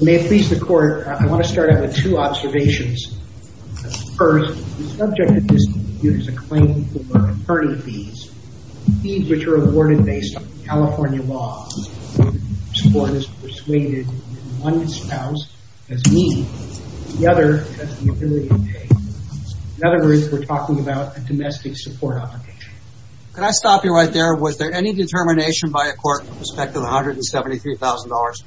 May it please the court, I want to start out with two observations. First, the subject of this dispute is a claim for attorney fees, fees which are awarded based on California law. The court is persuaded that one spouse has need, the other has the ability to pay. In other words, we're talking about a domestic support obligation. Could I stop you right there? Was there any determination by a court with respect to the $173,000?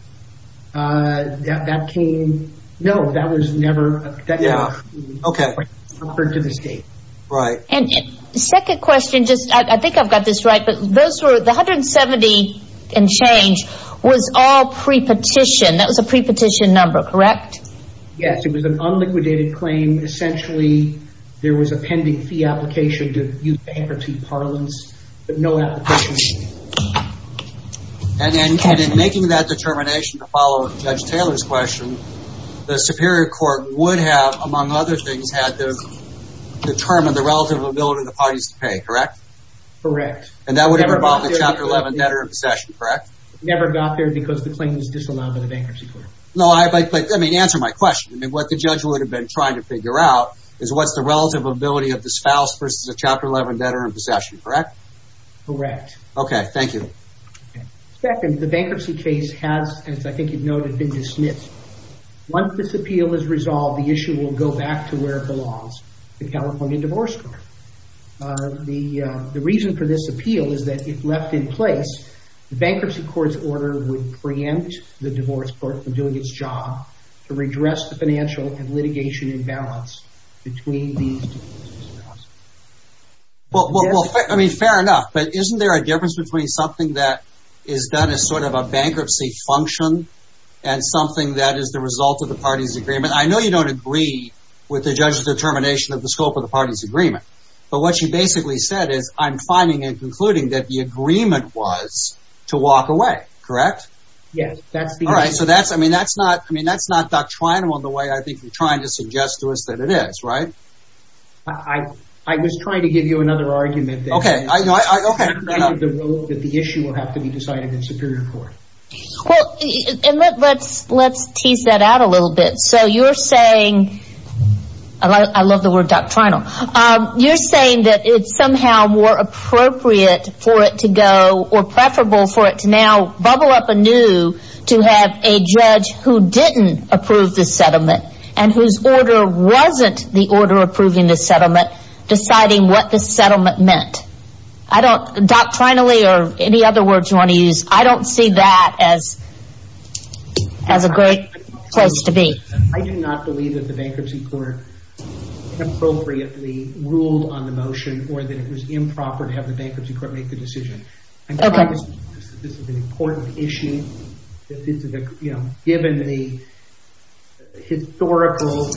Uh, that came, no, that was never. Okay. Right. Second question, I think I've got this right, but those were, the $170,000 in change was all pre-petition, that was a pre-petition number, correct? Yes, it was an unliquidated claim. Essentially, there was a pending fee application to use bankruptcy parlance, but no application was made. And in making that determination to follow Judge Taylor's question, the Superior Court would have, among other things, had to determine the relative ability of the parties to pay, correct? Correct. And that would have involved the Chapter 11 debtor in possession, correct? Never got there because the claim was disallowed by the Bankruptcy Court. No, I, but, I mean, answer my question. I mean, what the judge would have been trying to figure out is what's the relative ability of the spouse versus the Chapter 11 debtor in possession, correct? Correct. Okay, thank you. Second, the bankruptcy case has, as I think you've noted, been dismissed. Once this appeal is resolved, the issue will go back to where it belongs, the California Divorce Court. The reason for this appeal is that if left in place, the Bankruptcy Court's order would preempt the Divorce Court from doing its job to redress the financial and litigation imbalance between these two cases. Well, I mean, fair enough, but isn't there a difference between something that is done as sort of a bankruptcy function and something that is the result of the parties' agreement? I mean, I know you don't agree with the judge's determination of the scope of the parties' agreement, but what she basically said is, I'm finding and concluding that the agreement was to walk away, correct? Yes, that's the argument. All right, so that's, I mean, that's not, I mean, that's not doctrinal in the way I think you're trying to suggest to us that it is, right? I was trying to give you another argument. Okay, I, okay. That the issue will have to be decided in Superior Court. Well, and let's tease that out a little bit. So you're saying, I love the word doctrinal, you're saying that it's somehow more appropriate for it to go or preferable for it to now bubble up anew to have a judge who didn't approve the settlement and whose order wasn't the order approving the settlement deciding what the settlement meant. I don't, doctrinally or any other words you want to use, I don't see that as a great place to be. I do not believe that the Bankruptcy Court appropriately ruled on the motion or that it was improper to have the Bankruptcy Court make the decision. Okay. This is an important issue. You know, given the historical.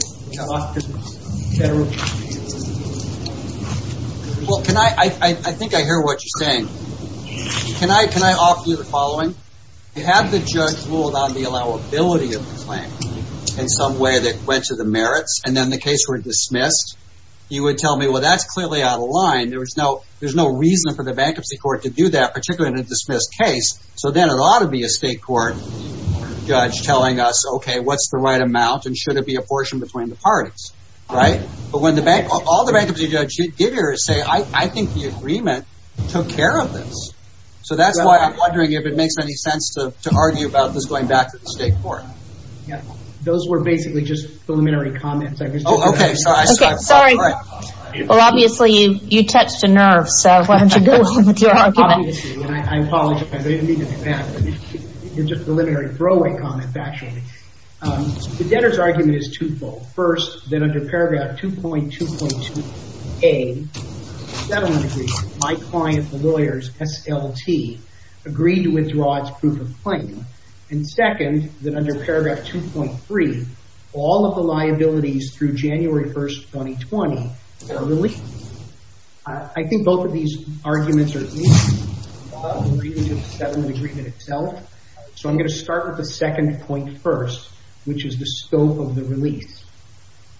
Well, can I, I think I hear what you're saying. Can I, can I offer you the following? You have the judge ruled on the allowability of the claim in some way that went to the merits and then the case were dismissed. You would tell me, well, that's clearly out of line. There was no, there's no reason for the Bankruptcy Court to do that, particularly in a dismissed case. So then it ought to be a state court judge telling us, okay, what's the right amount? And should it be a portion between the parties? Right. But when the bank, all the bankruptcy judges say, I think the agreement took care of this. So that's why I'm wondering if it makes any sense to argue about this going back to the state court. Yeah. Those were basically just preliminary comments. Okay. Sorry. Well, obviously you, you touched a nerve. So I wanted to go on with your argument. I apologize. I didn't mean to do that. It was just a preliminary throwaway comment, actually. The debtor's argument is twofold. First, that under paragraph 2.2.2a, settlement agreement, my client, the lawyers, SLT, agreed to withdraw its proof of claim. And second, that under paragraph 2.3, all of the liabilities through January 1st, 2020 are released. I think both of these arguments are equal. The agreement itself. So I'm going to start with the second point first, which is the scope of the release.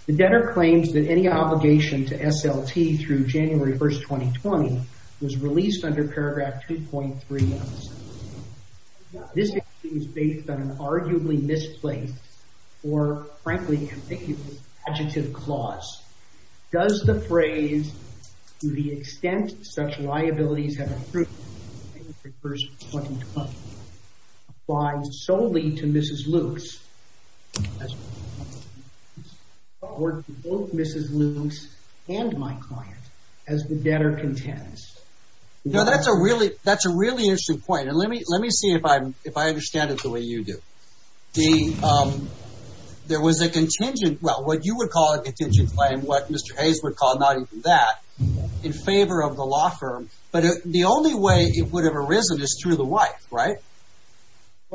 The debtor claims that any obligation to SLT through January 1st, 2020 was released under paragraph 2.3. This is based on an arguably misplaced or frankly ambiguous adjective clause. Does the phrase, to the extent such liabilities have been approved by January 1st, 2020, apply solely to Mrs. Luce? Or to both Mrs. Luce and my client as the debtor contends? Now, that's a really, that's a really interesting point. And let me, let me see if I, if I understand it the way you do. There was a contingent, well, what you would call a contingent claim, what Mr. Hayes would call, not even that, in favor of the law firm. But the only way it would have arisen is through the wife, right?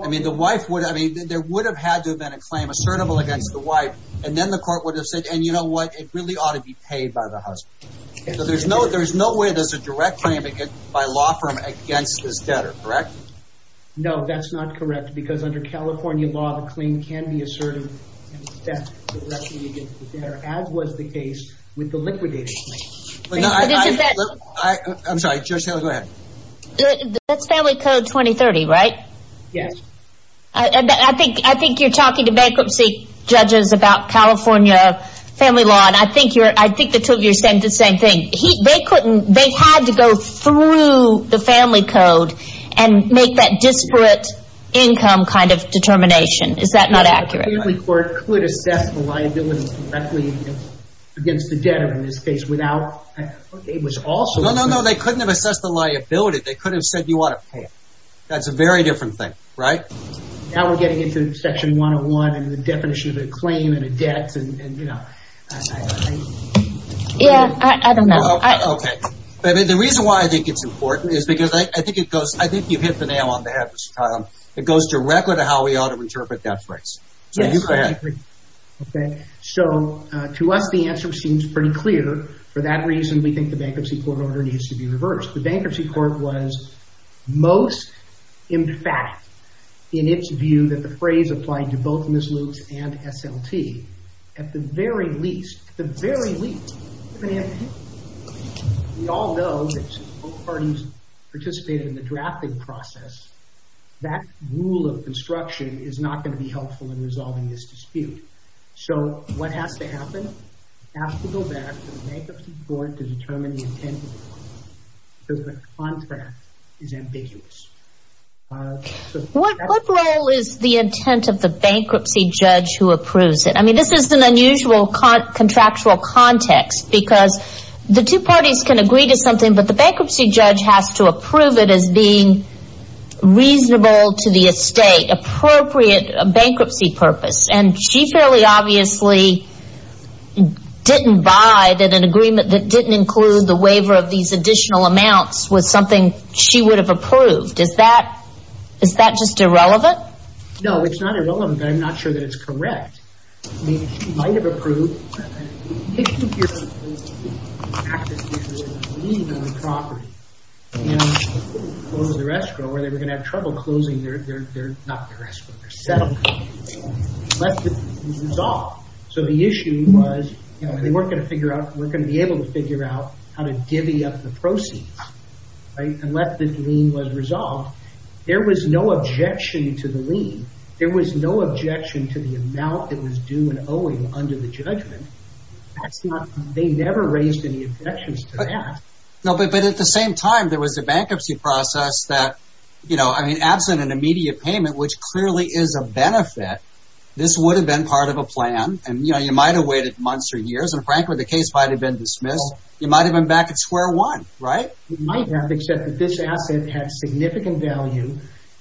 I mean, the wife would, I mean, there would have had to have been a claim assertable against the wife. And then the court would have said, and you know what? It really ought to be paid by the husband. So there's no, there's no way there's a direct claim by law firm against this debtor, correct? No, that's not correct. Because under California law, the claim can be asserted against the debtor, as was the case with the liquidated claim. I'm sorry, Judge Taylor, go ahead. That's Family Code 2030, right? Yes. I think, I think you're talking to bankruptcy judges about California family law. And I think you're, I think the two of you are saying the same thing. They couldn't, they had to go through the Family Code and make that disparate income kind of determination. Is that not accurate? The Family Court could assess the liability directly against the debtor, in this case, without, it was also No, no, no, they couldn't have assessed the liability. They could have said you ought to pay it. That's a very different thing, right? Now we're getting into Section 101 and the definition of a claim and a debt and, you know. Yeah, I don't know. Okay. The reason why I think it's important is because I think it goes, I think you hit the nail on the head, Mr. Tyler. It goes directly to how we ought to interpret that phrase. So you go ahead. Okay. So, to us, the answer seems pretty clear. For that reason, we think the bankruptcy court order needs to be reversed. Of course, the bankruptcy court was most emphatic in its view that the phrase applied to both Miss Luke's and SLT. At the very least, at the very least, we all know that since both parties participated in the drafting process, that rule of construction is not going to be helpful in resolving this dispute. So what has to happen? It has to go back to the bankruptcy court to determine the intent of the contract because the contract is ambiguous. What role is the intent of the bankruptcy judge who approves it? I mean, this is an unusual contractual context because the two parties can agree to something, but the bankruptcy judge has to approve it as being reasonable to the estate, appropriate bankruptcy purpose. And she fairly obviously didn't buy that an agreement that didn't include the waiver of these additional amounts was something she would have approved. Is that just irrelevant? No, it's not irrelevant, but I'm not sure that it's correct. I mean, she might have approved. The issue here is the lien on the property. And what was their escrow? Were they going to have trouble closing their, not their escrow, their settlement? Unless the lien was resolved. So the issue was, you know, they weren't going to figure out, weren't going to be able to figure out how to divvy up the proceeds, right, unless the lien was resolved. There was no objection to the lien. There was no objection to the amount that was due and owing under the judgment. That's not, they never raised any objections to that. No, but at the same time, there was a bankruptcy process that, you know, I mean, absent an immediate payment, which clearly is a benefit, this would have been part of a plan. And, you know, you might have waited months or years. And frankly, the case might have been dismissed. You might have been back at square one, right? You might have, except that this asset had significant value.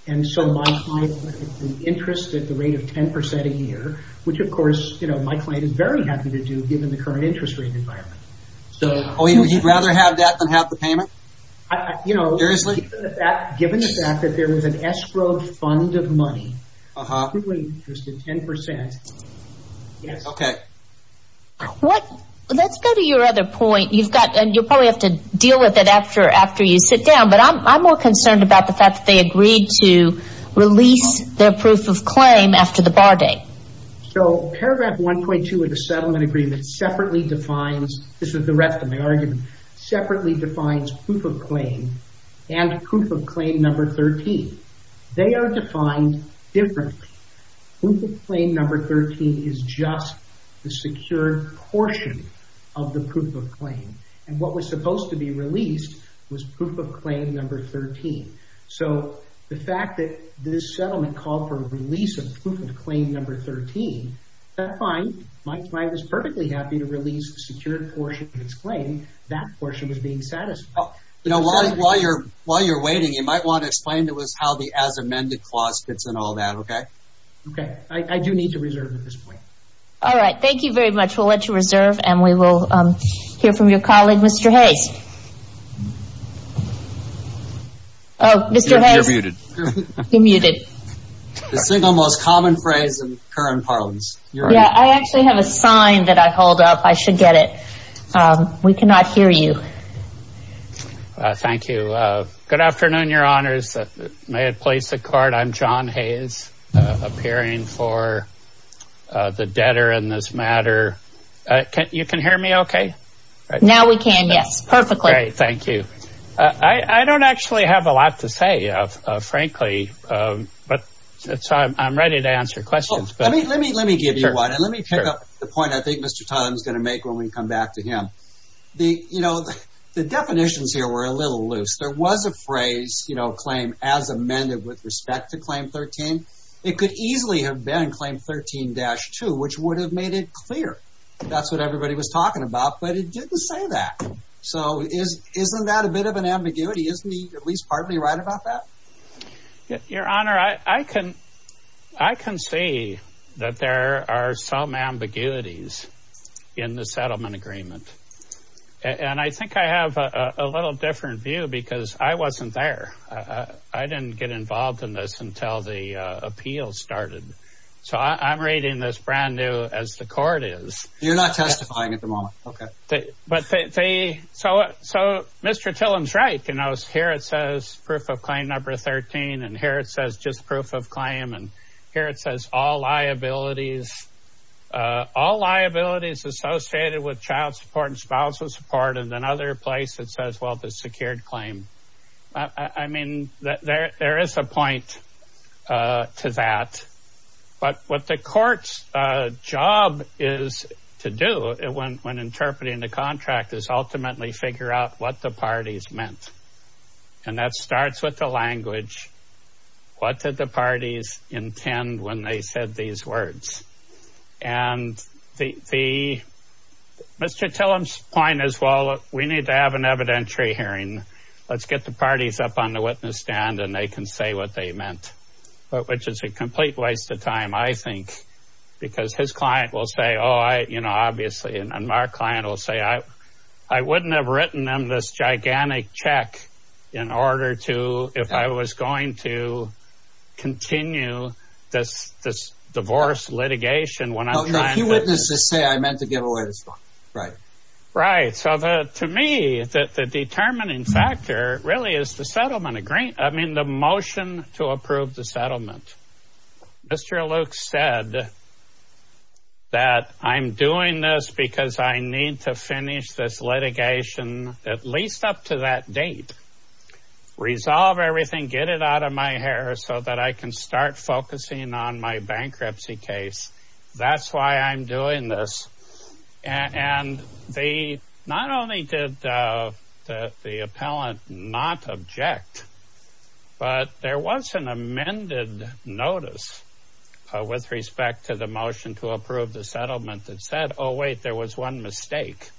And so my client would be interested at the rate of 10% a year, which, of course, you know, my client is very happy to do given the current interest rate environment. Oh, he'd rather have that than have the payment? You know, given the fact that there was an escrow fund of money, he would be interested 10%. Yes. Okay. Let's go to your other point. You've got, and you'll probably have to deal with it after you sit down, but I'm more concerned about the fact that they agreed to release their proof of claim after the bar date. So paragraph 1.2 of the settlement agreement separately defines, this is the rest of my argument, separately defines proof of claim and proof of claim number 13. They are defined differently. Proof of claim number 13 is just the secured portion of the proof of claim. And what was supposed to be released was proof of claim number 13. So the fact that this settlement called for release of proof of claim number 13, my client was perfectly happy to release the secured portion of its claim. That portion was being satisfied. While you're waiting, you might want to explain to us how the as amended clause fits in all that. Okay? Okay. I do need to reserve at this point. All right. Thank you very much. We'll let you reserve, and we will hear from your colleague, Mr. Hayes. Mr. Hayes. You're muted. You're muted. The single most common phrase in current parlance. I actually have a sign that I hold up. I should get it. We cannot hear you. Thank you. Good afternoon, your honors. May it please the court. I'm John Hayes, appearing for the debtor in this matter. You can hear me okay? Now we can, yes. Perfectly. Great. Thank you. I don't actually have a lot to say, frankly. But I'm ready to answer questions. Let me give you one. And let me pick up the point I think Mr. Tong is going to make when we come back to him. You know, the definitions here were a little loose. There was a phrase, you know, claim as amended with respect to claim 13. It could easily have been claim 13-2, which would have made it clear. That's what everybody was talking about. But it didn't say that. So isn't that a bit of an ambiguity? Isn't he at least partly right about that? Your honor, I can see that there are some ambiguities in the settlement agreement. And I think I have a little different view because I wasn't there. I didn't get involved in this until the appeal started. So I'm reading this brand new as the court is. Okay. So Mr. Tillum's right. You know, here it says proof of claim number 13. And here it says just proof of claim. And here it says all liabilities associated with child support and spousal support. And another place it says, well, the secured claim. I mean, there is a point to that. But what the court's job is to do when interpreting the contract is ultimately figure out what the parties meant. And that starts with the language. What did the parties intend when they said these words? And Mr. Tillum's point is, well, we need to have an evidentiary hearing. Let's get the parties up on the witness stand and they can say what they meant. Which is a complete waste of time, I think. Because his client will say, oh, I, you know, obviously. And our client will say, I wouldn't have written them this gigantic check in order to, if I was going to continue this divorce litigation when I'm trying to. A few witnesses say, I meant to give away this one. Right. Right. So to me, the determining factor really is the settlement agreement. I mean, the motion to approve the settlement. Mr. Luke said that I'm doing this because I need to finish this litigation at least up to that date. Resolve everything. Get it out of my hair so that I can start focusing on my bankruptcy case. That's why I'm doing this. And they not only did the appellant not object, but there was an amended notice with respect to the motion to approve the settlement that said, oh, wait, there was one mistake.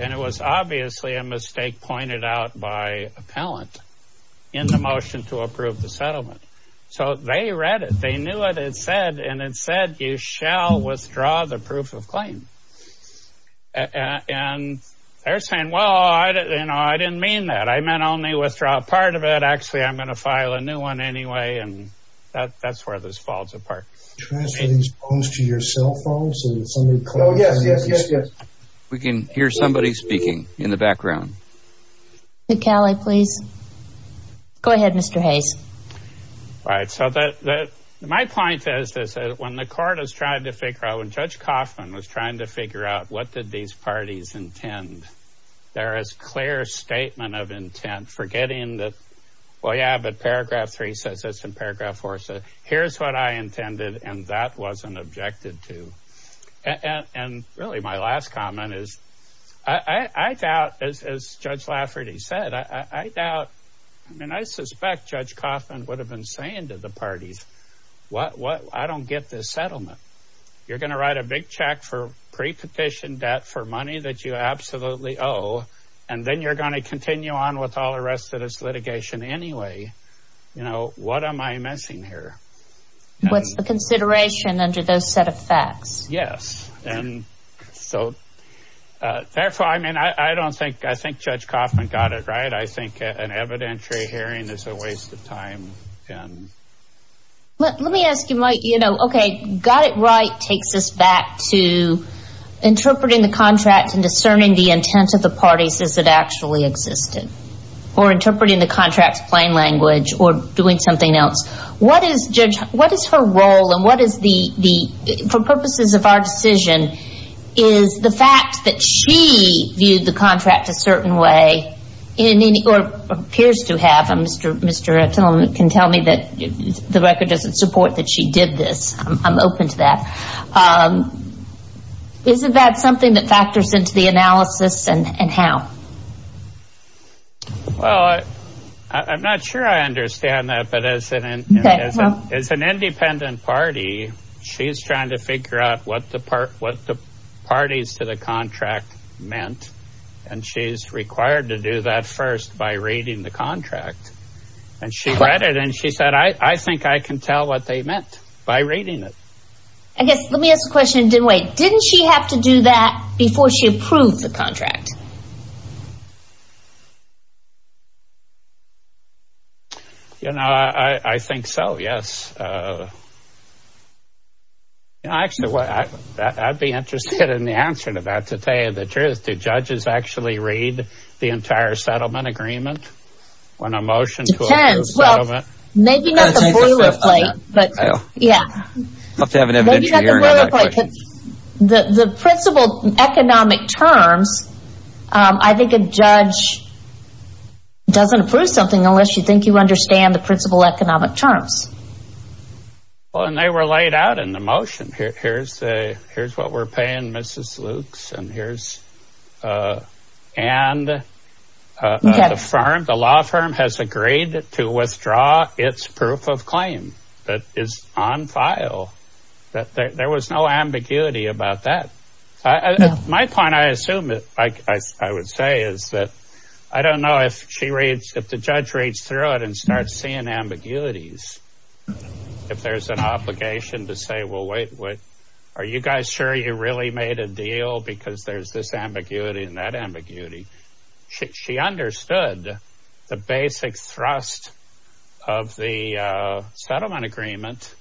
And it was obviously a mistake pointed out by appellant in the motion to approve the settlement. So they read it. They knew what it said. And it said, you shall withdraw the proof of claim. And they're saying, well, I didn't mean that. I meant only withdraw a part of it. Actually, I'm going to file a new one anyway. And that's where this falls apart. Transfer these phones to your cell phones. Oh, yes, yes, yes, yes. We can hear somebody speaking in the background. Mr. Calley, please. Go ahead, Mr. Hayes. All right. So my point is this. When the court is trying to figure out when Judge Kaufman was trying to figure out what did these parties intend, there is clear statement of intent. Forgetting that. Well, yeah, but paragraph three says this in paragraph four. So here's what I intended. And that wasn't objected to. And really, my last comment is I doubt, as Judge Lafferty said, I doubt. I mean, I suspect Judge Kaufman would have been saying to the parties, I don't get this settlement. You're going to write a big check for prepetition debt for money that you absolutely owe. And then you're going to continue on with all the rest of this litigation anyway. You know, what am I missing here? What's the consideration under those set of facts? Yes. And so therefore, I mean, I don't think I think Judge Kaufman got it right. I think an evidentiary hearing is a waste of time. Let me ask you, Mike, you know, okay, got it right takes us back to interpreting the contract and discerning the intent of the parties as it actually existed. Or interpreting the contract plain language or doing something else. What is her role and what is the, for purposes of our decision, is the fact that she viewed the contract a certain way or appears to have, Mr. Tillman can tell me that the record doesn't support that she did this. I'm open to that. Isn't that something that factors into the analysis and how? Well, I'm not sure I understand that. As an independent party, she's trying to figure out what the parties to the contract meant. And she's required to do that first by reading the contract. And she read it and she said, I think I can tell what they meant by reading it. I guess let me ask a question. Didn't she have to do that before she approved the contract? You know, I think so, yes. Actually, I'd be interested in the answer to that to tell you the truth. Do judges actually read the entire settlement agreement when a motion to approve the settlement? Depends. Well, maybe not the boilerplate. I'll have to have an evidentiary hearing on that question. Maybe not the boilerplate. The principal economic terms, I think a judge doesn't approve something unless you think you understand the principal economic terms. Well, and they were laid out in the motion. Here's what we're paying Mrs. Lukes and here's Ann. The law firm has agreed to withdraw its proof of claim that is on file. There was no ambiguity about that. My point, I assume, I would say is that I don't know if the judge reads through it and starts seeing ambiguities. If there's an obligation to say, well, wait, are you guys sure you really made a deal? Because there's this ambiguity and that ambiguity. She understood the basic thrust of the settlement agreement,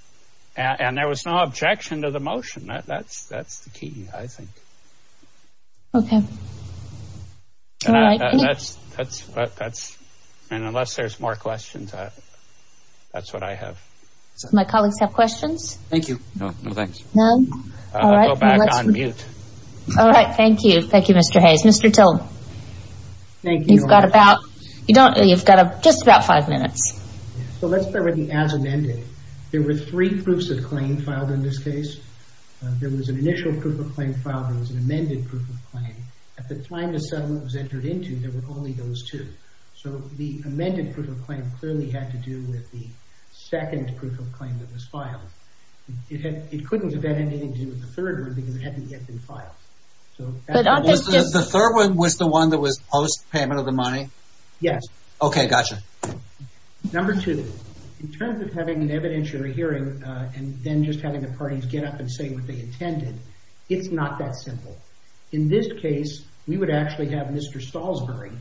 and there was no objection to the motion. That's the key, I think. Okay. Unless there's more questions, that's what I have. My colleagues have questions? Thank you. No, thanks. I'll go back on mute. All right, thank you. Thank you, Mr. Hayes. Mr. Till, you've got just about five minutes. Let's start with the as amended. There were three proofs of claim filed in this case. There was an initial proof of claim filed. There was an amended proof of claim. At the time the settlement was entered into, there were only those two. So the amended proof of claim clearly had to do with the second proof of claim that was filed. It couldn't have had anything to do with the third one because it hadn't yet been filed. The third one was the one that was post payment of the money? Yes. Okay, gotcha. Number two, in terms of having an evidentiary hearing and then just having the parties get up and say what they intended, it's not that simple. In this case, we would actually have Mr. Stallsbury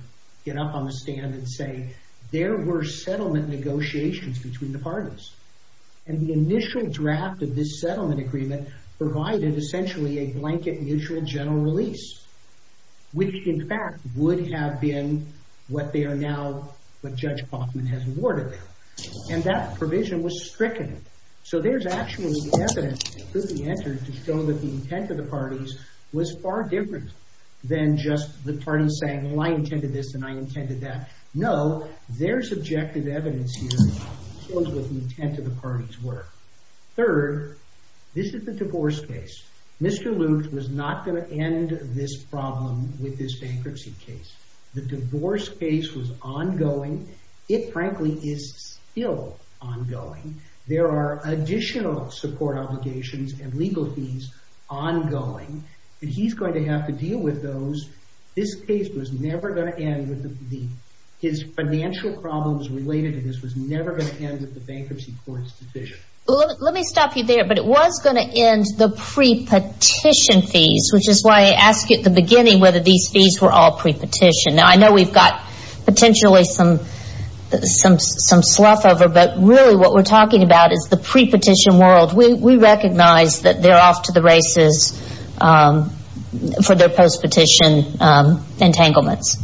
get up on the stand and say, there were settlement negotiations between the parties. And the initial draft of this settlement agreement provided essentially a blanket mutual general release, which in fact would have been what they are now, what Judge Kaufman has awarded them. And that provision was stricken. So there's actually evidence that could be entered to show that the intent of the parties was far different than just the parties saying, well, I intended this and I intended that. No, there's objective evidence here that shows what the intent of the parties were. Third, this is the divorce case. Mr. Luke was not going to end this problem with this bankruptcy case. The divorce case was ongoing. It frankly is still ongoing. There are additional support obligations and legal fees ongoing. And he's going to have to deal with those. This case was never going to end with his financial problems related to this was never going to end with the bankruptcy court's decision. Let me stop you there, but it was going to end the pre-petition fees, which is why I asked you at the beginning whether these fees were all pre-petition. Now, I know we've got potentially some slough over, but really what we're talking about is the pre-petition world. We recognize that they're off to the races for their post-petition entanglements.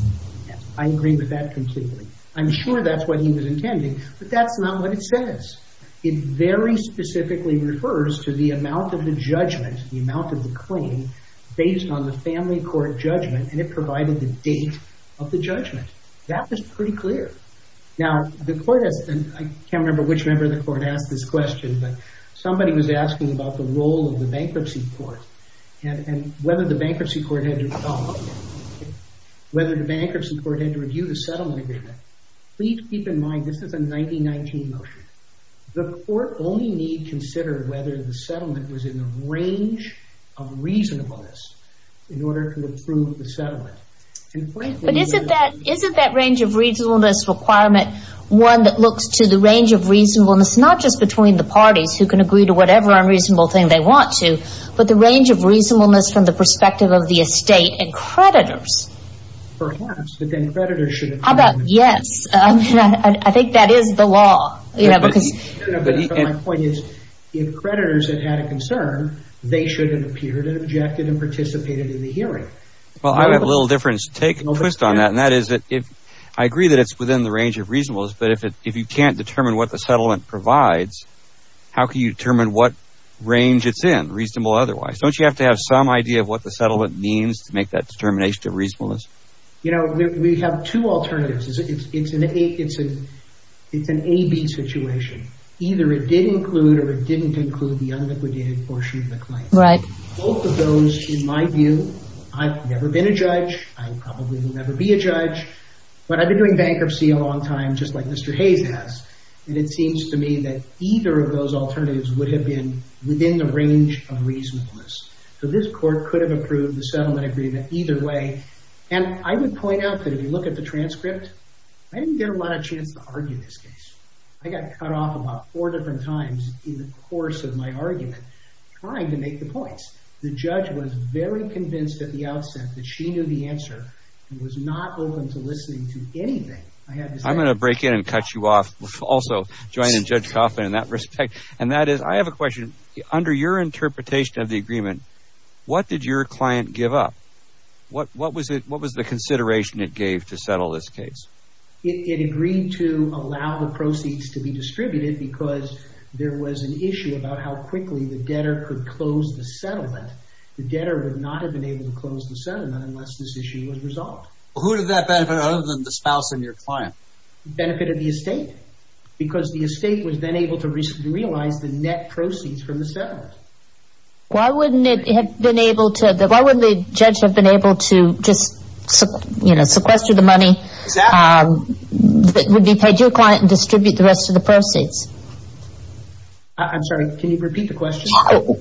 I agree with that completely. I'm sure that's what he was intending, but that's not what it says. It very specifically refers to the amount of the judgment, the amount of the claim, based on the family court judgment, and it provided the date of the judgment. That was pretty clear. Now, I can't remember which member of the court asked this question, but somebody was asking about the role of the bankruptcy court and whether the bankruptcy court had to review the settlement agreement. Please keep in mind this is a 1919 motion. The court only needs to consider whether the settlement was in the range of reasonableness in order to approve the settlement. But isn't that range of reasonableness requirement one that looks to the range of reasonableness not just between the parties who can agree to whatever unreasonable thing they want to, but the range of reasonableness from the perspective of the estate and creditors? Perhaps, but then creditors should have come in. Yes, I think that is the law. My point is if creditors had had a concern, they should have appeared and objected and participated in the hearing. Well, I have a little twist on that, and that is that I agree that it's within the range of reasonableness, but if you can't determine what the settlement provides, how can you determine what range it's in, reasonable or otherwise? Don't you have to have some idea of what the settlement means to make that determination of reasonableness? You know, we have two alternatives. It's an A-B situation. Either it did include or it didn't include the unliquidated portion of the claim. Right. Both of those, in my view, I've never been a judge. I probably will never be a judge, but I've been doing bankruptcy a long time just like Mr. Hayes has, and it seems to me that either of those alternatives would have been within the range of reasonableness. So this court could have approved the settlement agreement either way, and I would point out that if you look at the transcript, I didn't get a lot of chance to argue this case. I got cut off about four different times in the course of my argument trying to make the points. The judge was very convinced at the outset that she knew the answer and was not open to listening to anything. I'm going to break in and cut you off also, joining Judge Kaufman in that respect, and that is I have a question. Under your interpretation of the agreement, what did your client give up? What was the consideration it gave to settle this case? It agreed to allow the proceeds to be distributed because there was an issue about how quickly the debtor could close the settlement. The debtor would not have been able to close the settlement unless this issue was resolved. Who did that benefit other than the spouse and your client? It benefited the estate, because the estate was then able to realize the net proceeds from the settlement. Why wouldn't the judge have been able to just sequester the money that would be paid to your client and distribute the rest of the proceeds? I'm sorry, can you repeat the question?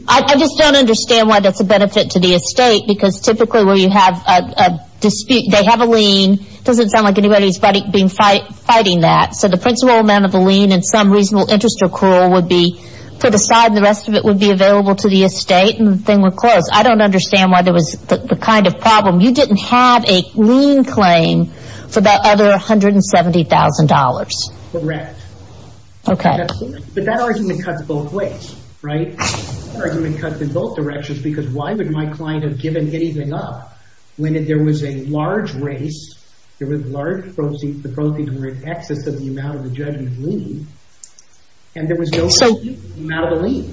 I just don't understand why that's a benefit to the estate, because typically where you have a dispute, they have a lien. It doesn't sound like anybody's been fighting that. So the principal amount of the lien and some reasonable interest accrual would be put aside and the rest of it would be available to the estate and the thing would close. I don't understand why there was the kind of problem. You didn't have a lien claim for that other $170,000. Correct. Okay. But that argument cuts both ways, right? That argument cuts in both directions, because why would my client have given anything up when there was a large raise, there was large proceeds, the proceeds were in excess of the amount of the judgment lien, and there was no amount of the lien.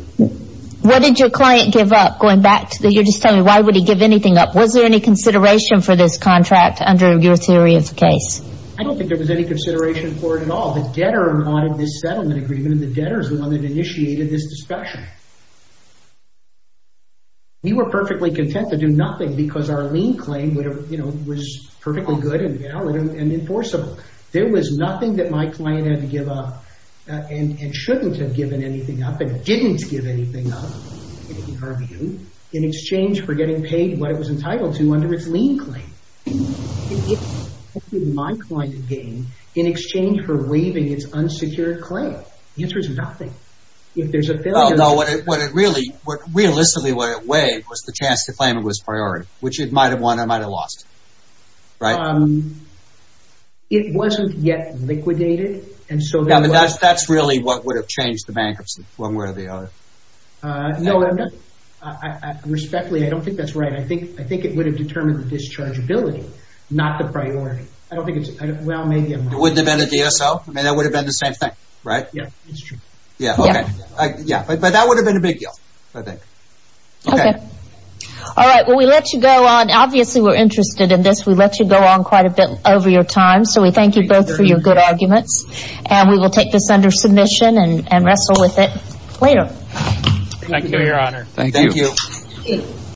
What did your client give up? You're just telling me, why would he give anything up? Was there any consideration for this contract under your theory of the case? I don't think there was any consideration for it at all. The debtor wanted this settlement agreement and the debtor is the one that initiated this discussion. We were perfectly content to do nothing because our lien claim was perfectly good and valid and enforceable. There was nothing that my client had to give up and shouldn't have given anything up and didn't give anything up, in our view, in exchange for getting paid what it was entitled to under its lien claim. What did my client gain in exchange for waiving its unsecured claim? The answer is nothing. If there's a failure... No, what it really, realistically what it waived was the chance to claim it was priority, which it might have won or might have lost, right? It wasn't yet liquidated, and so... That's really what would have changed the bankruptcy, one way or the other. No, I'm not... Respectfully, I don't think that's right. I think it would have determined the dischargeability, not the priority. I don't think it's... It wouldn't have been a DSO? That would have been the same thing, right? Yeah, that's true. Yeah, okay. But that would have been a big deal, I think. Okay. All right, well, we let you go on. Obviously, we're interested in this. We let you go on quite a bit over your time, so we thank you both for your good arguments. Thank you, Your Honor. Thank you. Thank you.